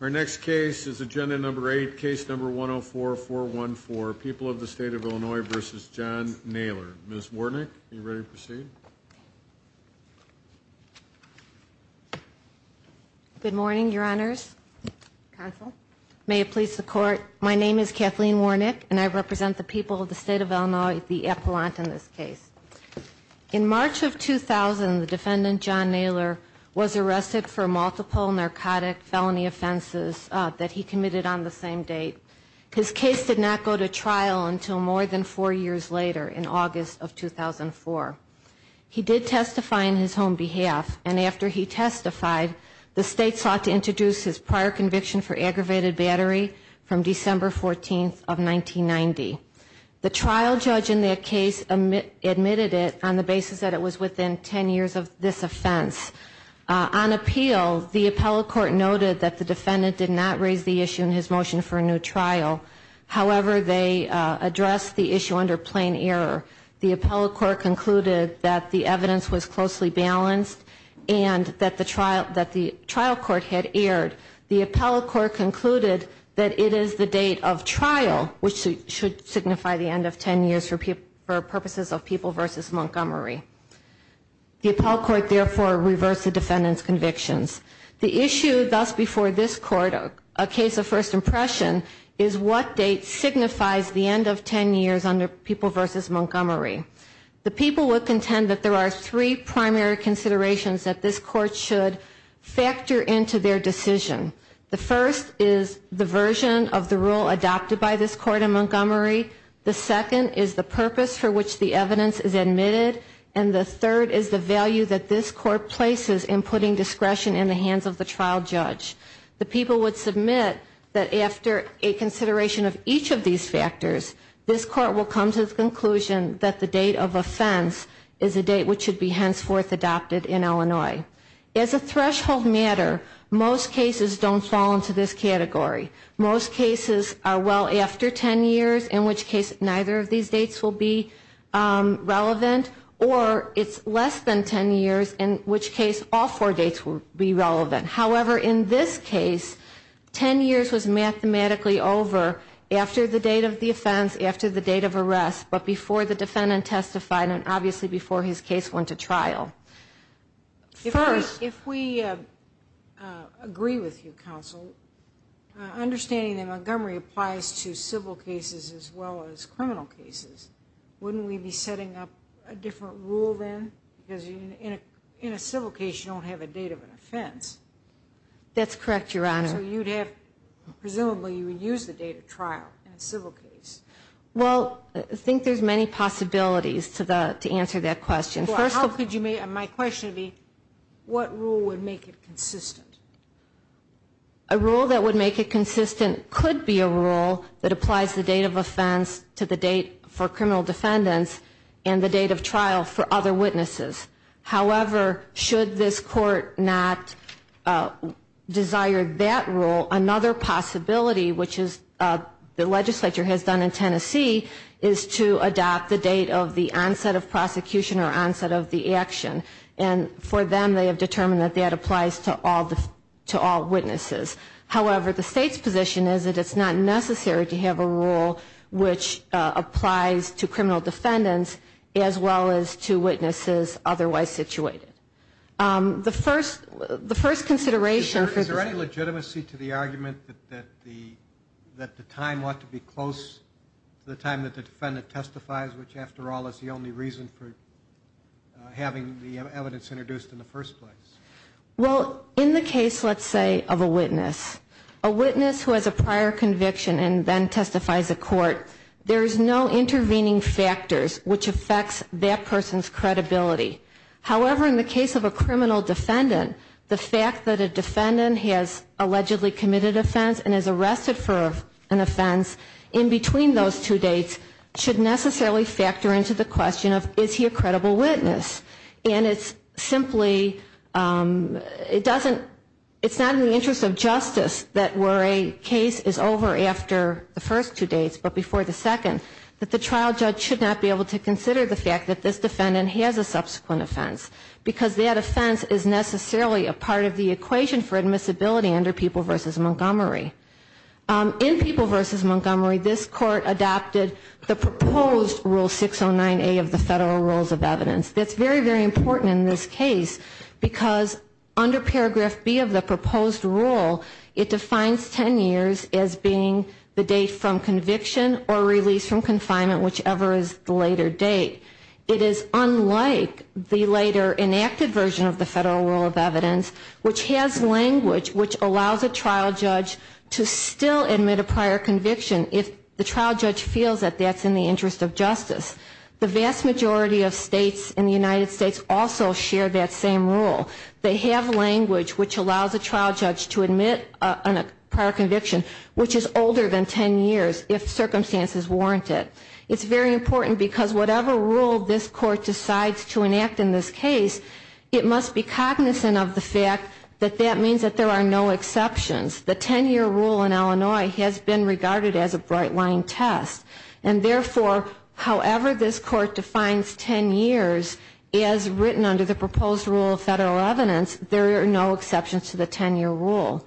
Our next case is Agenda 8, Case 104-414, People of the State of Illinois v. John Naylor. Ms. Warnick, are you ready to proceed? Good morning, Your Honors. May it please the Court, my name is Kathleen Warnick and I represent the people of the State of Illinois, the Appellant in this case. In March of 2000, the defendant, John Naylor, was arrested for multiple narcotic felony offenses that he committed on the same date. His case did not go to trial until more than four years later, in August of 2004. He did testify on his own behalf, and after he testified, the State sought to introduce his prior conviction for aggravated battery from December 14, 1990. The trial judge in that case admitted it on the basis that it was within 10 years of this offense. On appeal, the appellate court noted that the defendant did not raise the issue in his motion for a new trial. However, they addressed the issue under plain error. The appellate court concluded that the evidence was closely balanced and that the trial court had erred. The appellate court concluded that it is the date of trial which should signify the end of 10 years for purposes of People v. Montgomery. The appellate court therefore reversed the defendant's convictions. The issue thus before this court, a case of first impression, is what date signifies the end of 10 years under People v. Montgomery. The people would contend that there are three primary considerations that this court should factor into their decision. The first is the version of the rule adopted by this court in Montgomery. The second is the purpose for which the evidence is admitted. And the third is the value that this court places in putting discretion in the hands of the trial judge. The people would submit that after a consideration of each of these factors, this court will come to the conclusion that the date of offense is a date which should be henceforth adopted in Illinois. As a threshold matter, most cases don't fall into this category. Most cases are well after 10 years, in which case neither of these dates will be relevant, or it's less than 10 years, in which case all four dates will be relevant. However, in this case, 10 years was mathematically over after the date of the offense, after the date of arrest, but before the defendant testified and obviously before his case went to trial. First, if we agree with you, counsel, understanding that Montgomery applies to civil cases as well as criminal cases, wouldn't we be setting up a different rule then? Because in a civil case, you don't have a date of an offense. That's correct, Your Honor. So you'd have, presumably, you would use the date of trial in a civil case. Well, I think there's many possibilities to answer that question. First of all, my question would be, what rule would make it consistent? A rule that would make it consistent could be a rule that applies the date of offense to the date for criminal defendants and the date of trial for other witnesses. However, should this court not desire that rule, another possibility, which the legislature has done in Tennessee, is to adopt the date of the onset of prosecution or onset of the action. And for them, they have determined that that applies to all witnesses. However, the state's position is that it's not necessary to have a rule which applies to criminal defendants as well as to witnesses otherwise situated. Is there any legitimacy to the argument that the time ought to be close to the time that the defendant testifies, which, after all, is the only reason for having the evidence introduced in the first place? Well, in the case, let's say, of a witness, a witness who has a prior conviction and then testifies to court, there is no intervening factors which affects that person's credibility. However, in the case of a criminal defendant, the fact that a defendant has allegedly committed offense and is arrested for an offense in between those two dates should necessarily factor into the question of, is he a credible witness? And it's simply, it doesn't, it's not in the interest of justice that where a case is over after the first two dates but before the second, that the trial judge should not be able to consider the fact that this defendant has a subsequent offense, because that offense is necessarily a part of the equation for admissibility under People v. Montgomery. In People v. Montgomery, this court adopted the proposed Rule 609A of the Federal Rules of Evidence. That's very, very important in this case, because under Paragraph B of the proposed rule, it defines 10 years as being the date from conviction or release from confinement, whichever is the later date. It is unlike the later enacted version of the Federal Rule of Evidence, which has language which allows a trial judge to still admit a prior conviction if the trial judge feels that that's in the interest of justice. The vast majority of states in the United States also share that same rule. They have language which allows a trial judge to admit a prior conviction, which is older than 10 years if circumstances warrant it. It's very important, because whatever rule this court decides to enact in this case, it must be cognizant of the fact that that means that there are no exceptions. The 10-year rule in Illinois has been regarded as a bright-line test, and therefore, however this court defines 10 years as written under the proposed Rule of Federal Evidence, there are no exceptions to the 10-year rule.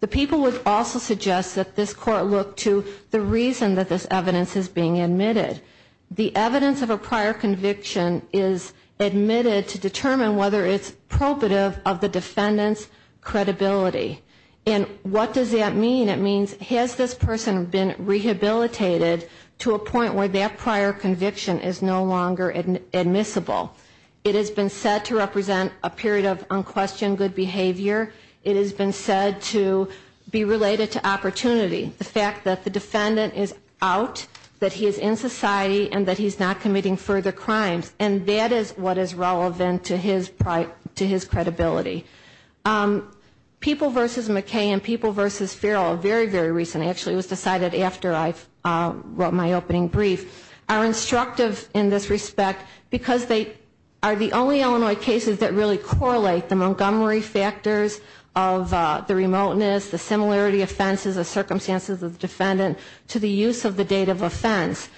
The people would also suggest that this court look to the reason that this evidence is being admitted. The evidence of a prior conviction is admitted to determine whether it's probative of the defendant's credibility. And what does that mean? It means has this person been rehabilitated to a point where that prior conviction is no longer admissible? It has been said to represent a period of unquestioned good behavior. It has been said to be related to opportunity, the fact that the defendant is out, that he is in society, and that he is not committing further crimes. And that is what is relevant to his credibility. People v. McKay and People v. Farrell, very, very recently, actually it was decided after I wrote my opening brief, are instructive in this respect because they are the only Illinois cases that really correlate the Montgomery factors of the remoteness, the similarity offenses, the circumstances of the defendant to the use of the date of offense.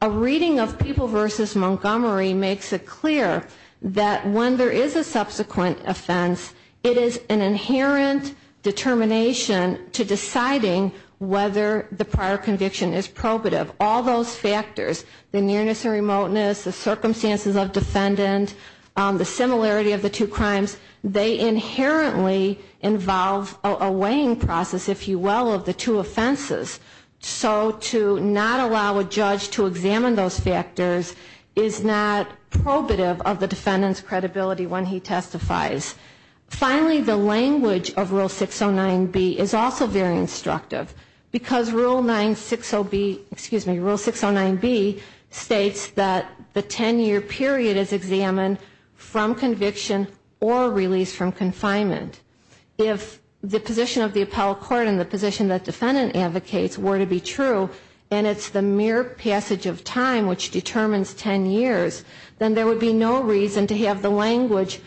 A reading of People v. Montgomery makes it clear that when there is a subsequent offense, it is an inherent determination to deciding whether the prior conviction is probative. All those factors, the nearness and remoteness, the circumstances of defendant, the similarity of the two crimes, they inherently involve a weighing process, if you will, of the two offenses. So to not allow a judge to examine those factors is not probative of the defendant's credibility when he testifies. Finally, the language of Rule 609B is also very instructive. Because Rule 609B states that the 10-year period is examined from conviction or release from confinement. If the position of the appellate court and the position that defendant advocates were to be true, and it's the mere passage of time which determines 10 years, then there would be no reason to have the language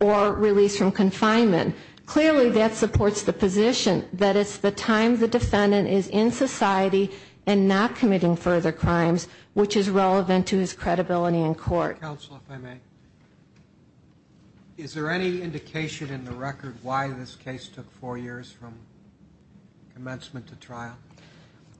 or release from confinement. Clearly, that supports the position that it's the time the defendant is in society and not committing further crimes, which is relevant to his credibility in court. Counsel, if I may. Is there any indication in the record why this case took four years from commencement to trial?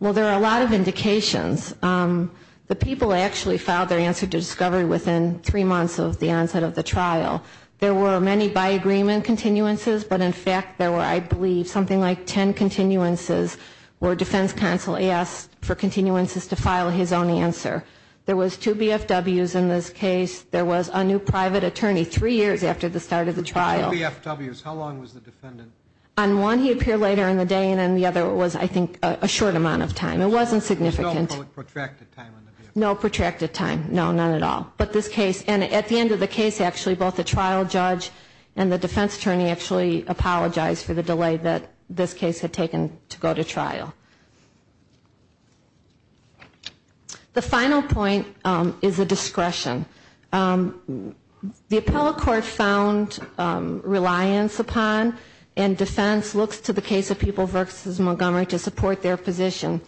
Well, there are a lot of indications. The people actually filed their answer to discovery within three months of the onset of the trial. There were many by agreement continuances, but in fact there were, I believe, something like 10 continuances where defense counsel asked for continuances to file his own answer. There was two BFWs in this case. There was a new private attorney three years after the start of the trial. Two BFWs. How long was the defendant? On one, he appeared later in the day, and on the other was, I think, a short amount of time. It wasn't significant. There was no protracted time in the BFW? No protracted time. No, none at all. But this case, and at the end of the case, actually, both the trial judge and the defense attorney actually apologized for the delay that this case had taken to go to trial. The final point is the discretion. The appellate court found reliance upon and defense looks to the case of People v. Montgomery to support their position.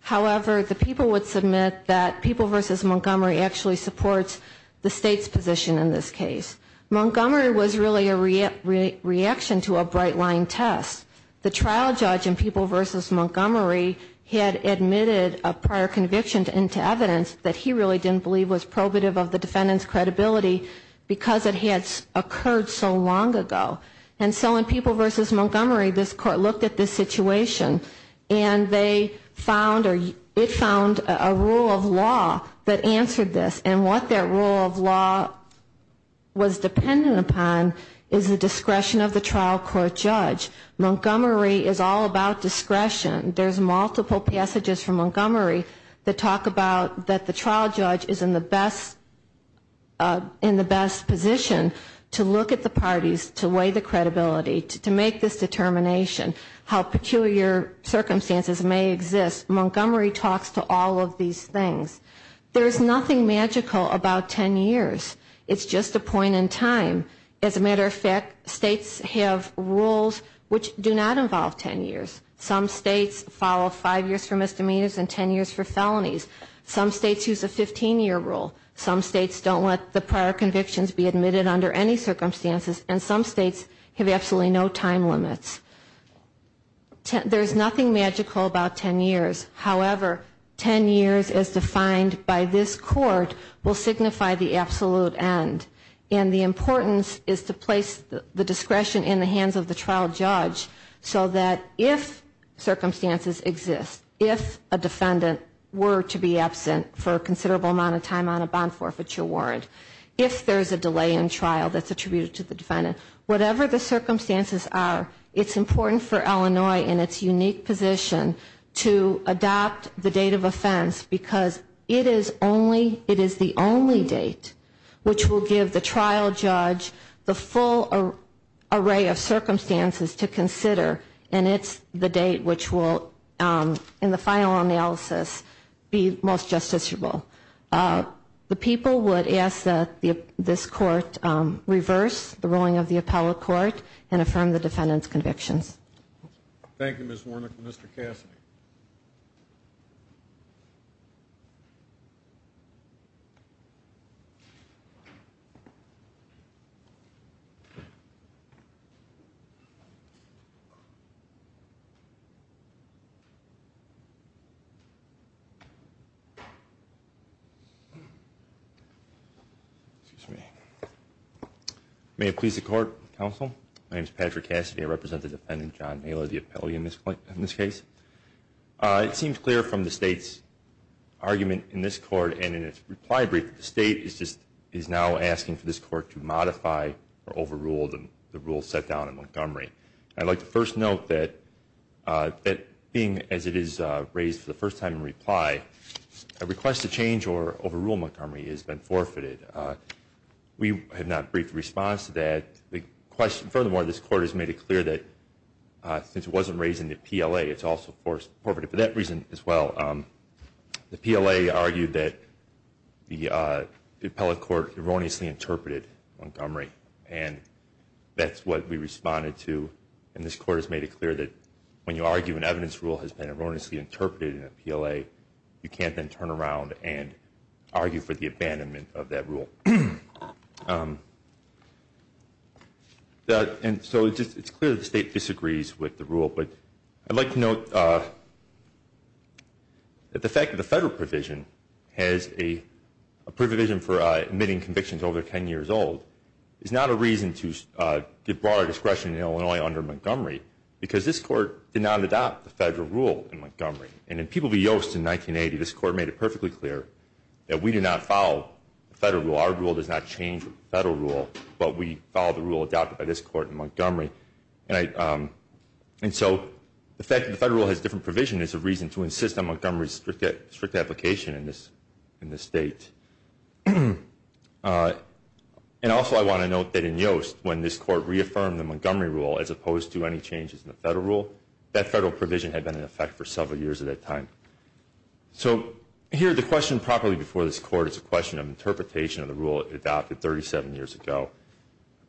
However, the people would submit that People v. Montgomery actually supports the state's position in this case. Montgomery was really a reaction to a bright-line test. The trial judge in People v. Montgomery had admitted a prior conviction into evidence that he really didn't believe was probative of the defendant's credibility because it had occurred so long ago. And so in People v. Montgomery, this court looked at this situation and it found a rule of law that answered this. And what that rule of law was dependent upon is the discretion of the trial court judge. Montgomery is all about discretion. There's multiple passages from Montgomery that talk about that the trial judge is in the best position to look at the parties, to weigh the credibility, to make this determination, how peculiar circumstances may exist. Montgomery talks to all of these things. There's nothing magical about 10 years. It's just a point in time. As a matter of fact, states have rules which do not involve 10 years. Some states follow five years for misdemeanors and 10 years for felonies. Some states use a 15-year rule. Some states don't let the prior convictions be admitted under any circumstances. And some states have absolutely no time limits. There's nothing magical about 10 years. However, 10 years as defined by this court will signify the absolute end. And the importance is to place the discretion in the hands of the trial judge so that if circumstances exist, if a defendant were to be absent for a considerable amount of time on a bond forfeiture warrant, if there's a delay in trial that's attributed to the defendant, whatever the circumstances are, it's important for Illinois in its unique position to adopt the date of offense because it is the only date which will give the trial judge the full array of circumstances to consider, and it's the date which will, in the final analysis, be most justiciable. The people would ask that this court reverse the ruling of the appellate court and affirm the defendant's convictions. Thank you, Ms. Warnock. Mr. Cassidy. May it please the court, counsel. My name is Patrick Cassidy. I represent the defendant, John Naylor, the appellee in this case. It seems clear from the state's argument in this court and in its reply brief that the state is now asking for this court to modify or overrule the rules set down in Montgomery. I'd like to first note that being as it is raised for the first time in reply, a request to change or overrule Montgomery has been forfeited. We have not briefed a response to that. Furthermore, this court has made it clear that since it wasn't raised in the PLA, it's also forfeited for that reason as well. The PLA argued that the appellate court erroneously interpreted Montgomery, and that's what we responded to. And this court has made it clear that when you argue an evidence rule has been erroneously interpreted in a PLA, you can't then turn around and argue for the abandonment of that rule. And so it's clear that the state disagrees with the rule, but I'd like to note that the fact that the federal provision has a provision for admitting convictions over 10 years old is not a reason to give broader discretion in Illinois under Montgomery because this court did not adopt the federal rule in Montgomery. And in People v. Yost in 1980, this court made it perfectly clear that we do not follow the federal rule. Our rule does not change with the federal rule, but we follow the rule adopted by this court in Montgomery. And so the fact that the federal rule has a different provision is a reason to insist on Montgomery's strict application in this state. And also I want to note that in Yost, when this court reaffirmed the Montgomery rule as opposed to any changes in the federal rule, that federal provision had been in effect for several years at that time. So here the question properly before this court is a question of interpretation of the rule adopted 37 years ago.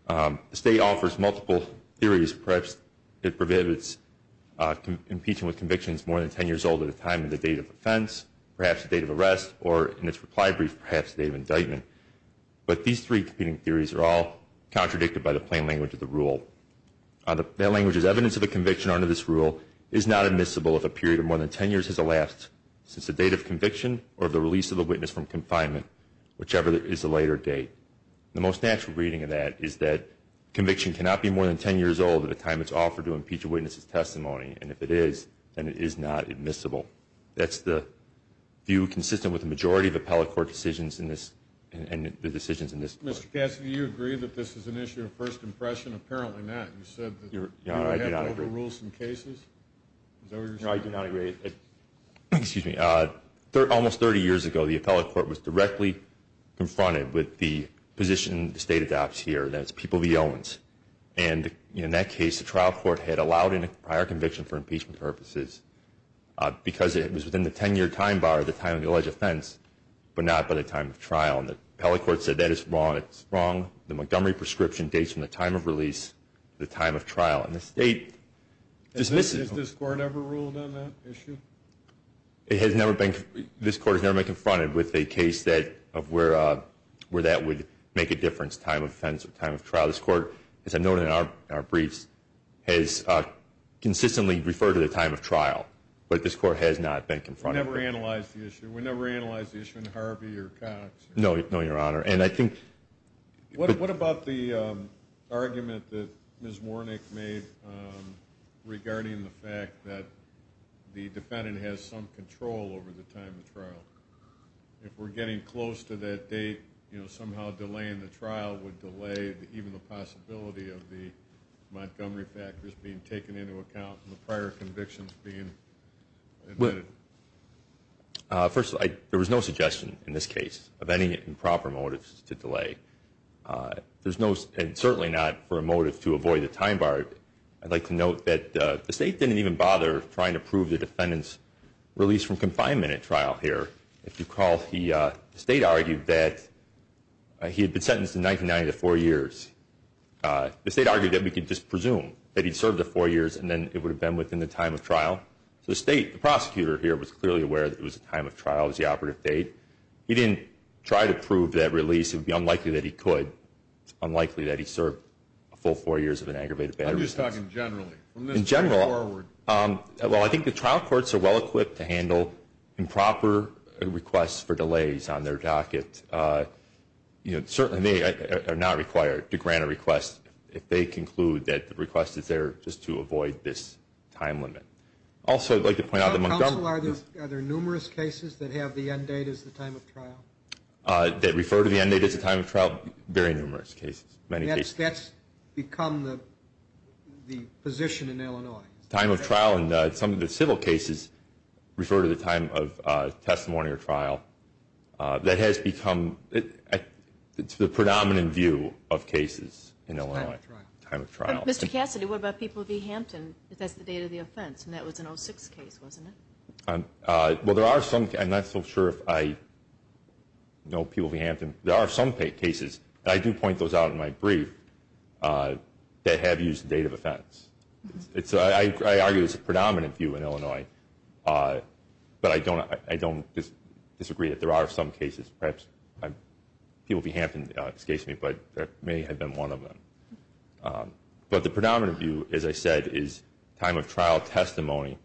The state offers multiple theories. Perhaps it prohibits impeaching with convictions more than 10 years old at a time of the date of offense, perhaps the date of arrest, or in its reply brief, perhaps the date of indictment. But these three competing theories are all contradicted by the plain language of the rule. That language is evidence of a conviction under this rule is not admissible if a period of more than 10 years has elapsed since the date of conviction or the release of the witness from confinement, whichever is the later date. The most natural reading of that is that conviction cannot be more than 10 years old at a time it's offered to impeach a witness's testimony, and if it is, then it is not admissible. That's the view consistent with the majority of appellate court decisions and the decisions in this court. Mr. Cassidy, do you agree that this is an issue of first impression? Apparently not. You said that you have overruled some cases. Is that what you're saying? No, I do not agree. Excuse me. Almost 30 years ago the appellate court was directly confronted with the position the state adopts here, that it's people of the elements. And in that case the trial court had allowed in a prior conviction for impeachment purposes because it was within the 10-year time bar, the time of the alleged offense, but not by the time of trial. And the appellate court said that is wrong. It's wrong. The Montgomery prescription dates from the time of release to the time of trial. And the state dismisses them. Has this court ever ruled on that issue? It has never been. This court has never been confronted with a case of where that would make a difference, time of offense or time of trial. This court, as I noted in our briefs, has consistently referred to the time of trial. But this court has not been confronted with it. We never analyzed the issue. We never analyzed the issue in Harvey or Cox. No, Your Honor. And I think. What about the argument that Ms. Warnick made regarding the fact that the defendant has some control over the time of trial? If we're getting close to that date, you know, how delaying the trial would delay even the possibility of the Montgomery factors being taken into account and the prior convictions being admitted? First of all, there was no suggestion in this case of any improper motives to delay. And certainly not for a motive to avoid the time bar. I'd like to note that the state didn't even bother trying to prove the defendant's release from confinement at trial here. If you recall, the state argued that he had been sentenced in 1990 to four years. The state argued that we could just presume that he'd served the four years and then it would have been within the time of trial. So the state, the prosecutor here, was clearly aware that it was the time of trial. It was the operative date. He didn't try to prove that release. It would be unlikely that he could. It's unlikely that he served a full four years of an aggravated battery sentence. I'm just talking generally. In general. From this point forward. Well, I think the trial courts are well-equipped to handle improper requests for delays on their docket. Certainly they are not required to grant a request if they conclude that the request is there just to avoid this time limit. Also, I'd like to point out that Montgomery. Counsel, are there numerous cases that have the end date as the time of trial? That refer to the end date as the time of trial? Very numerous cases. Many cases. Since that's become the position in Illinois. Time of trial. And some of the civil cases refer to the time of testimony or trial. That has become the predominant view of cases in Illinois. Time of trial. Mr. Cassidy, what about People v. Hampton? That's the date of the offense. And that was an 06 case, wasn't it? Well, there are some. I'm not so sure if I know People v. Hampton. There are some cases. I do point those out in my brief that have used the date of offense. I argue it's a predominant view in Illinois. But I don't disagree that there are some cases. Perhaps People v. Hampton, excuse me, but there may have been one of them. But the predominant view, as I said, is time of trial testimony.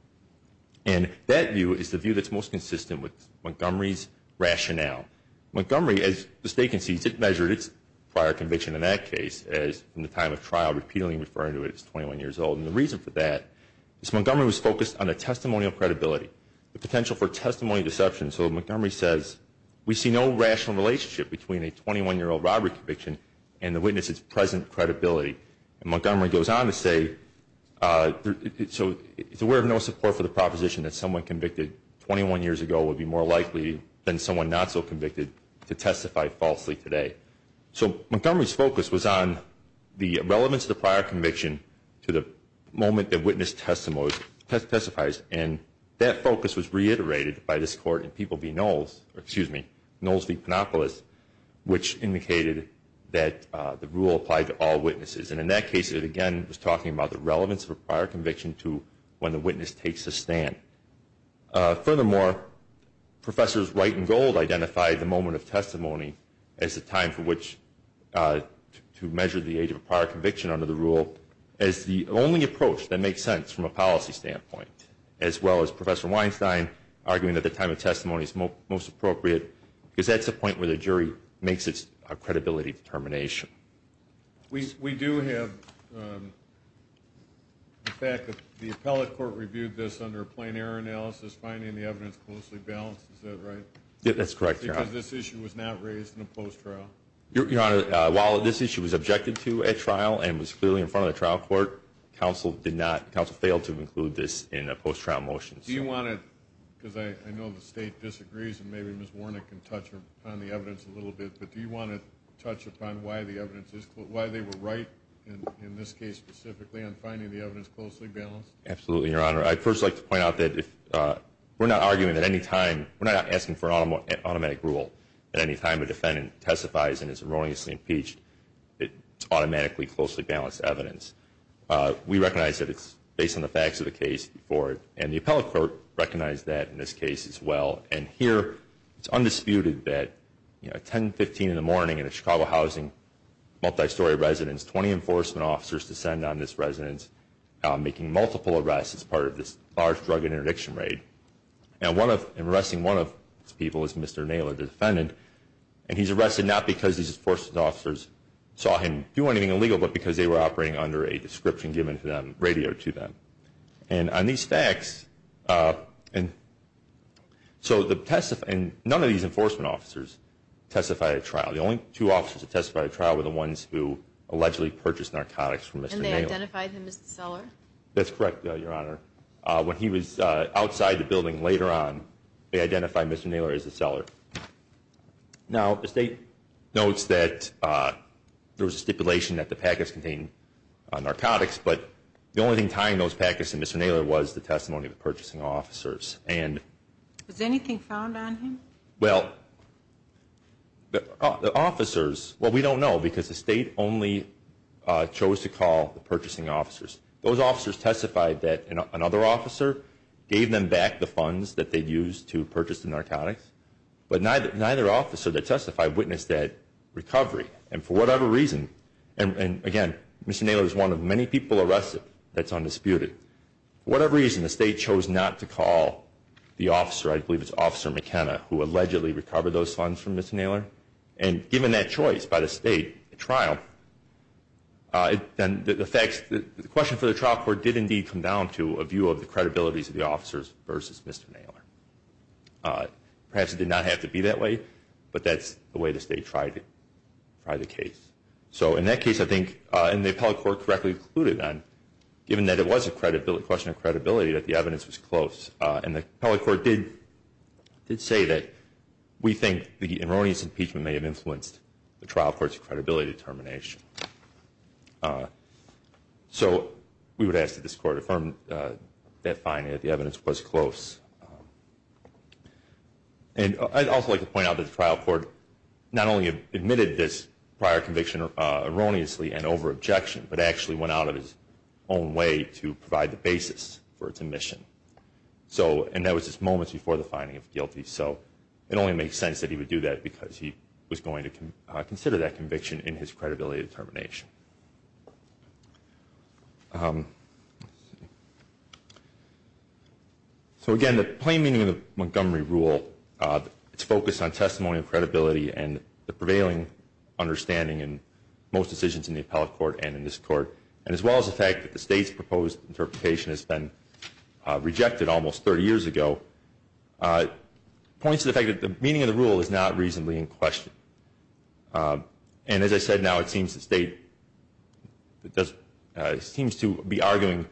And that view is the view that's most consistent with Montgomery's rationale. Montgomery, as the state concedes, it measured its prior conviction in that case as in the time of trial, repeatedly referring to it as 21 years old. And the reason for that is Montgomery was focused on a testimonial credibility, the potential for testimony deception. So Montgomery says, we see no rational relationship between a 21-year-old robbery conviction and the witness's present credibility. And Montgomery goes on to say, so we're of no support for the proposition that someone convicted 21 years ago would be more likely than someone not so convicted to testify falsely today. So Montgomery's focus was on the relevance of the prior conviction to the moment the witness testifies. And that focus was reiterated by this court in People v. Knowles, or excuse me, Knowles v. Panopoulos, which indicated that the rule applied to all witnesses. And in that case, it again was talking about the relevance of a prior conviction to when the witness takes a stand. Furthermore, Professors Wright and Gold identified the moment of testimony as the time for which to measure the age of a prior conviction under the rule as the only approach that makes sense from a policy standpoint, as well as Professor Weinstein arguing that the time of testimony is most appropriate because that's the point where the jury makes its credibility determination. We do have the fact that the appellate court reviewed this under a plain error analysis, finding the evidence closely balanced. Is that right? That's correct, Your Honor. Because this issue was not raised in a post-trial? Your Honor, while this issue was objected to at trial and was clearly in front of the trial court, counsel failed to include this in a post-trial motion. Do you want to, because I know the state disagrees and maybe Ms. Warnick can touch on the evidence a little bit, but do you want to touch upon why they were right in this case specifically on finding the evidence closely balanced? Absolutely, Your Honor. I'd first like to point out that we're not arguing at any time, we're not asking for an automatic rule at any time a defendant testifies and is erroneously impeached. It's automatically closely balanced evidence. We recognize that it's based on the facts of the case before it, and the appellate court recognized that in this case as well. And here it's undisputed that, you know, 10, 15 in the morning in a Chicago housing, multi-story residence, 20 enforcement officers descend on this residence making multiple arrests as part of this large drug interdiction raid. And arresting one of these people is Mr. Naylor, the defendant, and he's arrested not because these enforcement officers saw him do anything illegal but because they were operating under a description given to them, radioed to them. And on these facts, so none of these enforcement officers testified at trial. The only two officers that testified at trial were the ones who allegedly purchased narcotics from Mr. Naylor. And they identified him as the seller? That's correct, Your Honor. When he was outside the building later on, they identified Mr. Naylor as the seller. Now the State notes that there was a stipulation that the packets contained narcotics, but the only thing tying those packets to Mr. Naylor was the testimony of the purchasing officers. Was anything found on him? Well, the officers, well, we don't know because the State only chose to call the purchasing officers. Those officers testified that another officer gave them back the funds that they'd used to purchase the narcotics, but neither officer that testified witnessed that recovery. And for whatever reason, and again, Mr. Naylor is one of many people arrested that's undisputed. For whatever reason, the State chose not to call the officer, I believe it's Officer McKenna, who allegedly recovered those funds from Mr. Naylor. And given that choice by the State at trial, then the question for the trial court did indeed come down to a view of the credibility of the officers versus Mr. Naylor. Perhaps it did not have to be that way, but that's the way the State tried the case. So in that case, I think, and the appellate court correctly concluded then, given that it was a question of credibility, that the evidence was close. And the appellate court did say that we think the erroneous impeachment may have influenced the trial court's credibility determination. So we would ask that this court affirm that finding, that the evidence was close. And I'd also like to point out that the trial court not only admitted this prior conviction erroneously and over-objection, but actually went out of his own way to provide the basis for its admission. So, and that was just moments before the finding of guilty, so it only makes sense that he would do that because he was going to consider that conviction in his credibility determination. So again, the plain meaning of the Montgomery Rule, it's focused on testimony of credibility and the prevailing understanding in most decisions in the appellate court and in this court, and as well as the fact that the State's proposed interpretation has been rejected almost 30 years ago, points to the fact that the meaning of the rule is not reasonably in question. And as I said, now it seems the State seems to be arguing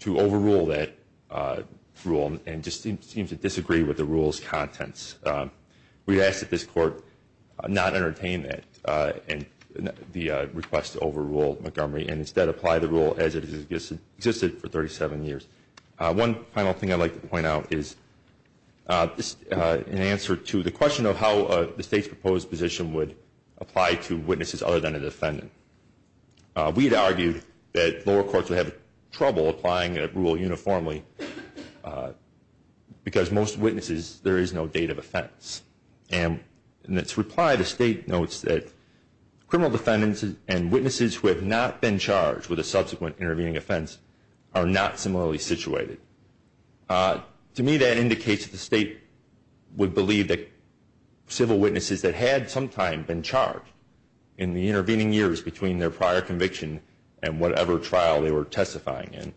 to overrule that rule and just seems to disagree with the rule's contents. We'd ask that this court not entertain the request to overrule Montgomery and instead apply the rule as it has existed for 37 years. One final thing I'd like to point out is, in answer to the question of how the State's proposed position would apply to witnesses other than a defendant, we'd argue that lower courts would have trouble applying a rule uniformly because most witnesses, there is no date of offense. And in its reply, the State notes that criminal defendants and witnesses who have not been charged with a subsequent intervening offense are not similarly situated. To me, that indicates that the State would believe that civil witnesses that had sometime been charged in the intervening years between their prior conviction and whatever trial they were testifying in,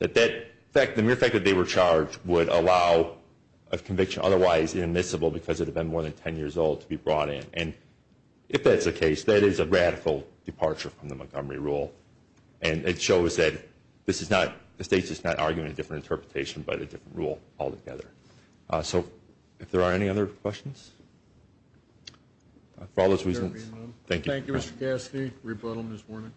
that the mere fact that they were charged would allow a conviction otherwise inadmissible because it had been more than 10 years old to be brought in. And if that's the case, that is a radical departure from the Montgomery rule. And it shows that this is not, the State's just not arguing a different interpretation but a different rule altogether. So if there are any other questions? For all those reasons, thank you. Thank you, Mr. Cassidy. Rebuttal, Ms. Wernick.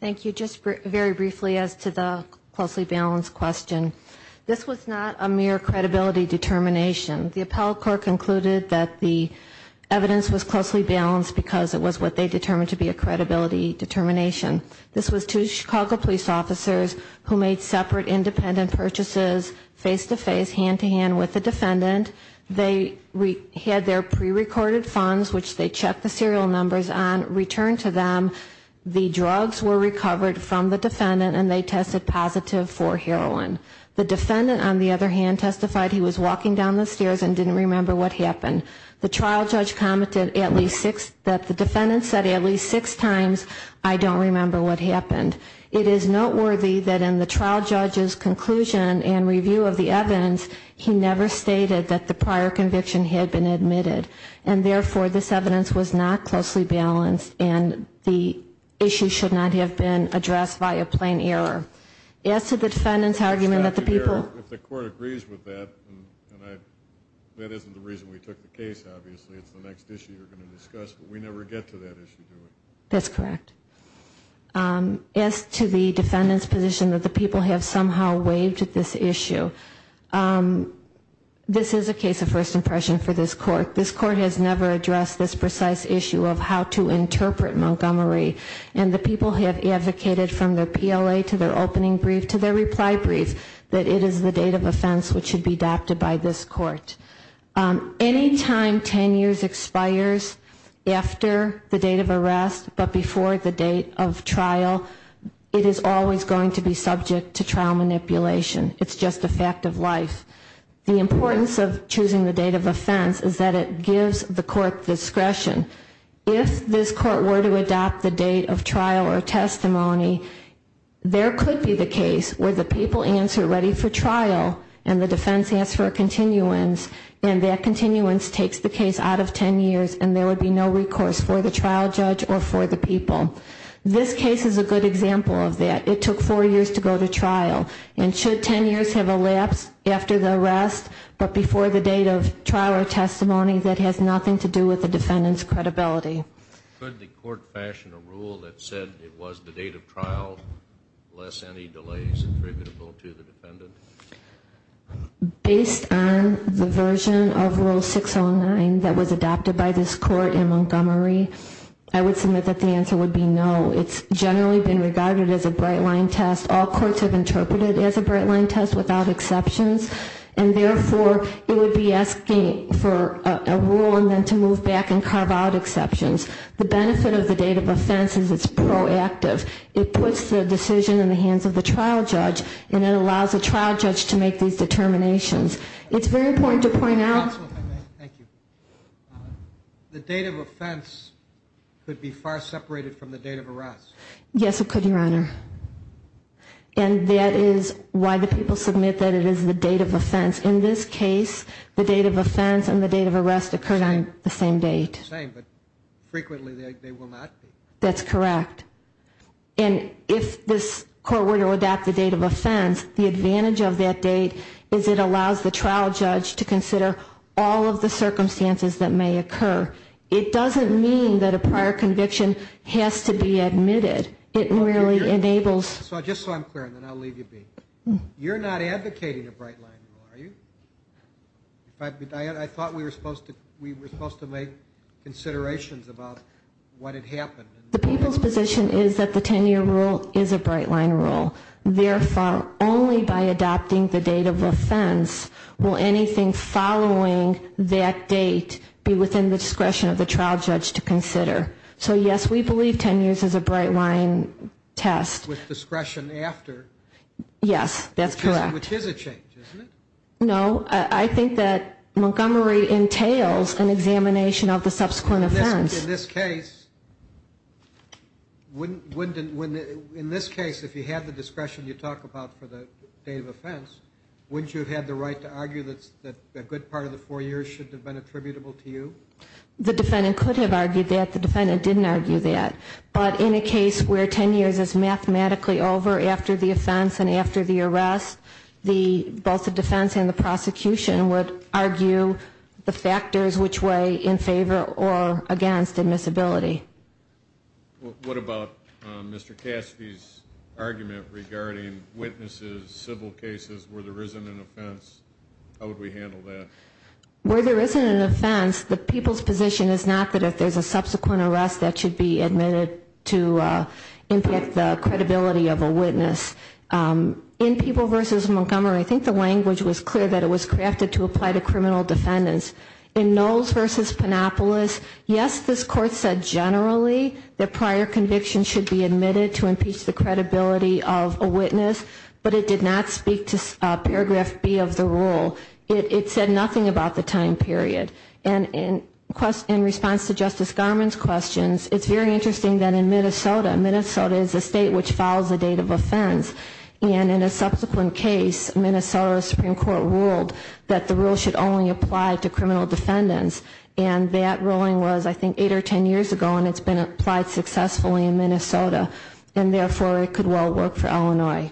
Thank you. Just very briefly as to the closely balanced question, this was not a mere credibility determination. The appellate court concluded that the evidence was closely balanced because it was what they determined to be a credibility determination. This was two Chicago police officers who made separate independent purchases face-to-face, hand-to-hand with the defendant. They had their prerecorded funds, which they checked the serial numbers on, returned to them. The drugs were recovered from the defendant and they tested positive for heroin. The defendant, on the other hand, testified he was walking down the stairs and didn't remember what happened. The trial judge commented that the defendant said at least six times, I don't remember what happened. It is noteworthy that in the trial judge's conclusion and review of the evidence, he never stated that the prior conviction had been admitted. And therefore, this evidence was not closely balanced and the issue should not have been addressed by a plain error. As to the defendant's argument that the people... If the court agrees with that, and that isn't the reason we took the case, obviously, it's the next issue you're going to discuss, but we never get to that issue, do we? That's correct. As to the defendant's position that the people have somehow waived this issue, this is a case of first impression for this court. This court has never addressed this precise issue of how to interpret Montgomery, and the people have advocated from their PLA to their opening brief to their reply brief that it is the date of offense which should be adopted by this court. Any time 10 years expires after the date of arrest but before the date of trial, it is always going to be subject to trial manipulation. It's just a fact of life. The importance of choosing the date of offense is that it gives the court discretion. If this court were to adopt the date of trial or testimony, there could be the case where the people answer ready for trial and the defense asks for a continuance, and that continuance takes the case out of 10 years and there would be no recourse for the trial judge or for the people. This case is a good example of that. It took four years to go to trial, and should 10 years have elapsed after the arrest but before the date of trial or testimony that has nothing to do with the defendant's credibility. Could the court fashion a rule that said it was the date of trial lest any delay is attributable to the defendant? Based on the version of Rule 609 that was adopted by this court in Montgomery, I would submit that the answer would be no. It's generally been regarded as a bright-line test. All courts have interpreted it as a bright-line test without exceptions, and therefore it would be asking for a rule and then to move back and carve out exceptions. The benefit of the date of offense is it's proactive. It puts the decision in the hands of the trial judge and it allows the trial judge to make these determinations. It's very important to point out the date of offense could be far separated from the date of arrest. Yes, it could, Your Honor. And that is why the people submit that it is the date of offense. In this case, the date of offense and the date of arrest occurred on the same date. The same, but frequently they will not be. That's correct. And if this court were to adopt the date of offense, the advantage of that date is it allows the trial judge to consider all of the circumstances that may occur. It doesn't mean that a prior conviction has to be admitted. It really enables... Just so I'm clear, and then I'll leave you be. You're not advocating a bright-line rule, are you? I thought we were supposed to make considerations about what had happened. The people's position is that the 10-year rule is a bright-line rule. Therefore, only by adopting the date of offense will anything following that date be within the discretion of the trial judge to consider. So, yes, we believe 10 years is a bright-line test. With discretion after. Yes, that's correct. Which is a change, isn't it? No, I think that Montgomery entails an examination of the subsequent offense. In this case, if you had the discretion you talk about for the date of offense, wouldn't you have had the right to argue that a good part of the four years should have been attributable to you? The defendant could have argued that. The defendant didn't argue that. But in a case where 10 years is mathematically over after the offense and after the arrest, both the defense and the prosecution would argue the factors which way in favor or against admissibility. What about Mr. Cassidy's argument regarding witnesses, civil cases, where there isn't an offense? How would we handle that? Where there isn't an offense, the people's position is not that if there's a subsequent arrest, that should be admitted to impact the credibility of a witness. In People v. Montgomery, I think the language was clear that it was crafted to apply to criminal defendants. In Knowles v. Panopoulos, yes, this court said generally that prior conviction should be admitted to impeach the credibility of a witness, but it did not speak to Paragraph B of the rule. It said nothing about the time period. And in response to Justice Garmon's questions, it's very interesting that in Minnesota, Minnesota is a state which follows a date of offense, and in a subsequent case, Minnesota Supreme Court ruled that the rule should only apply to criminal defendants. And that ruling was, I think, eight or 10 years ago, and it's been applied successfully in Minnesota. And therefore, it could well work for Illinois.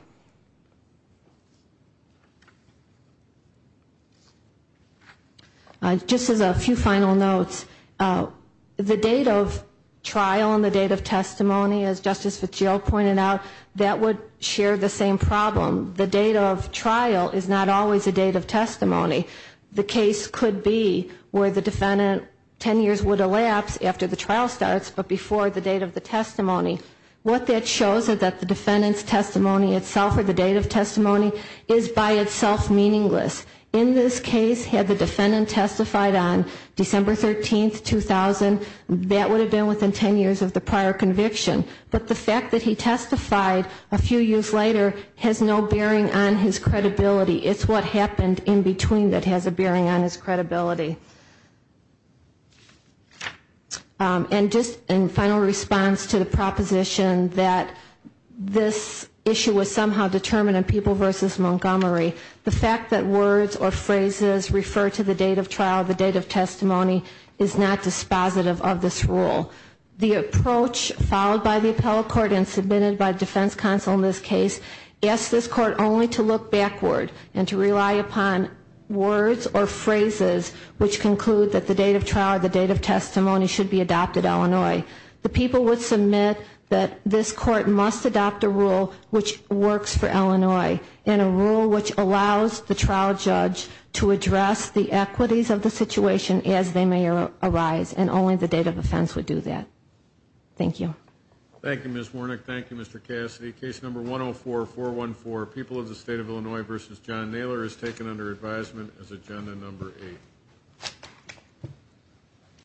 Just as a few final notes, the date of trial and the date of testimony, as Justice Fitzgerald pointed out, that would share the same problem. The date of trial is not always the date of testimony. The case could be where the defendant 10 years would elapse after the trial starts, but before the date of the testimony. What that shows is that the defendant's testimony itself or the date of testimony is by itself meaningless. In this case, had the defendant testified on December 13, 2000, that would have been within 10 years of the prior conviction. But the fact that he testified a few years later has no bearing on his credibility. It's what happened in between that has a bearing on his credibility. And just in final response to the proposition that this issue was somehow determined in People v. Montgomery, the fact that words or phrases refer to the date of trial, the date of testimony, is not dispositive of this rule. The approach followed by the appellate court and submitted by defense counsel in this case asked this court only to look backward and to rely upon words or phrases which conclude that the date of trial or the date of testimony should be adopted in Illinois. The people would submit that this court must adopt a rule which works for Illinois and a rule which allows the trial judge to address the equities of the situation as they may arise. And only the date of offense would do that. Thank you. Thank you, Ms. Warnick. Thank you, Mr. Cassidy. Case number 104-414, People of the State of Illinois v. John Naylor is taken under advisement as agenda number 8.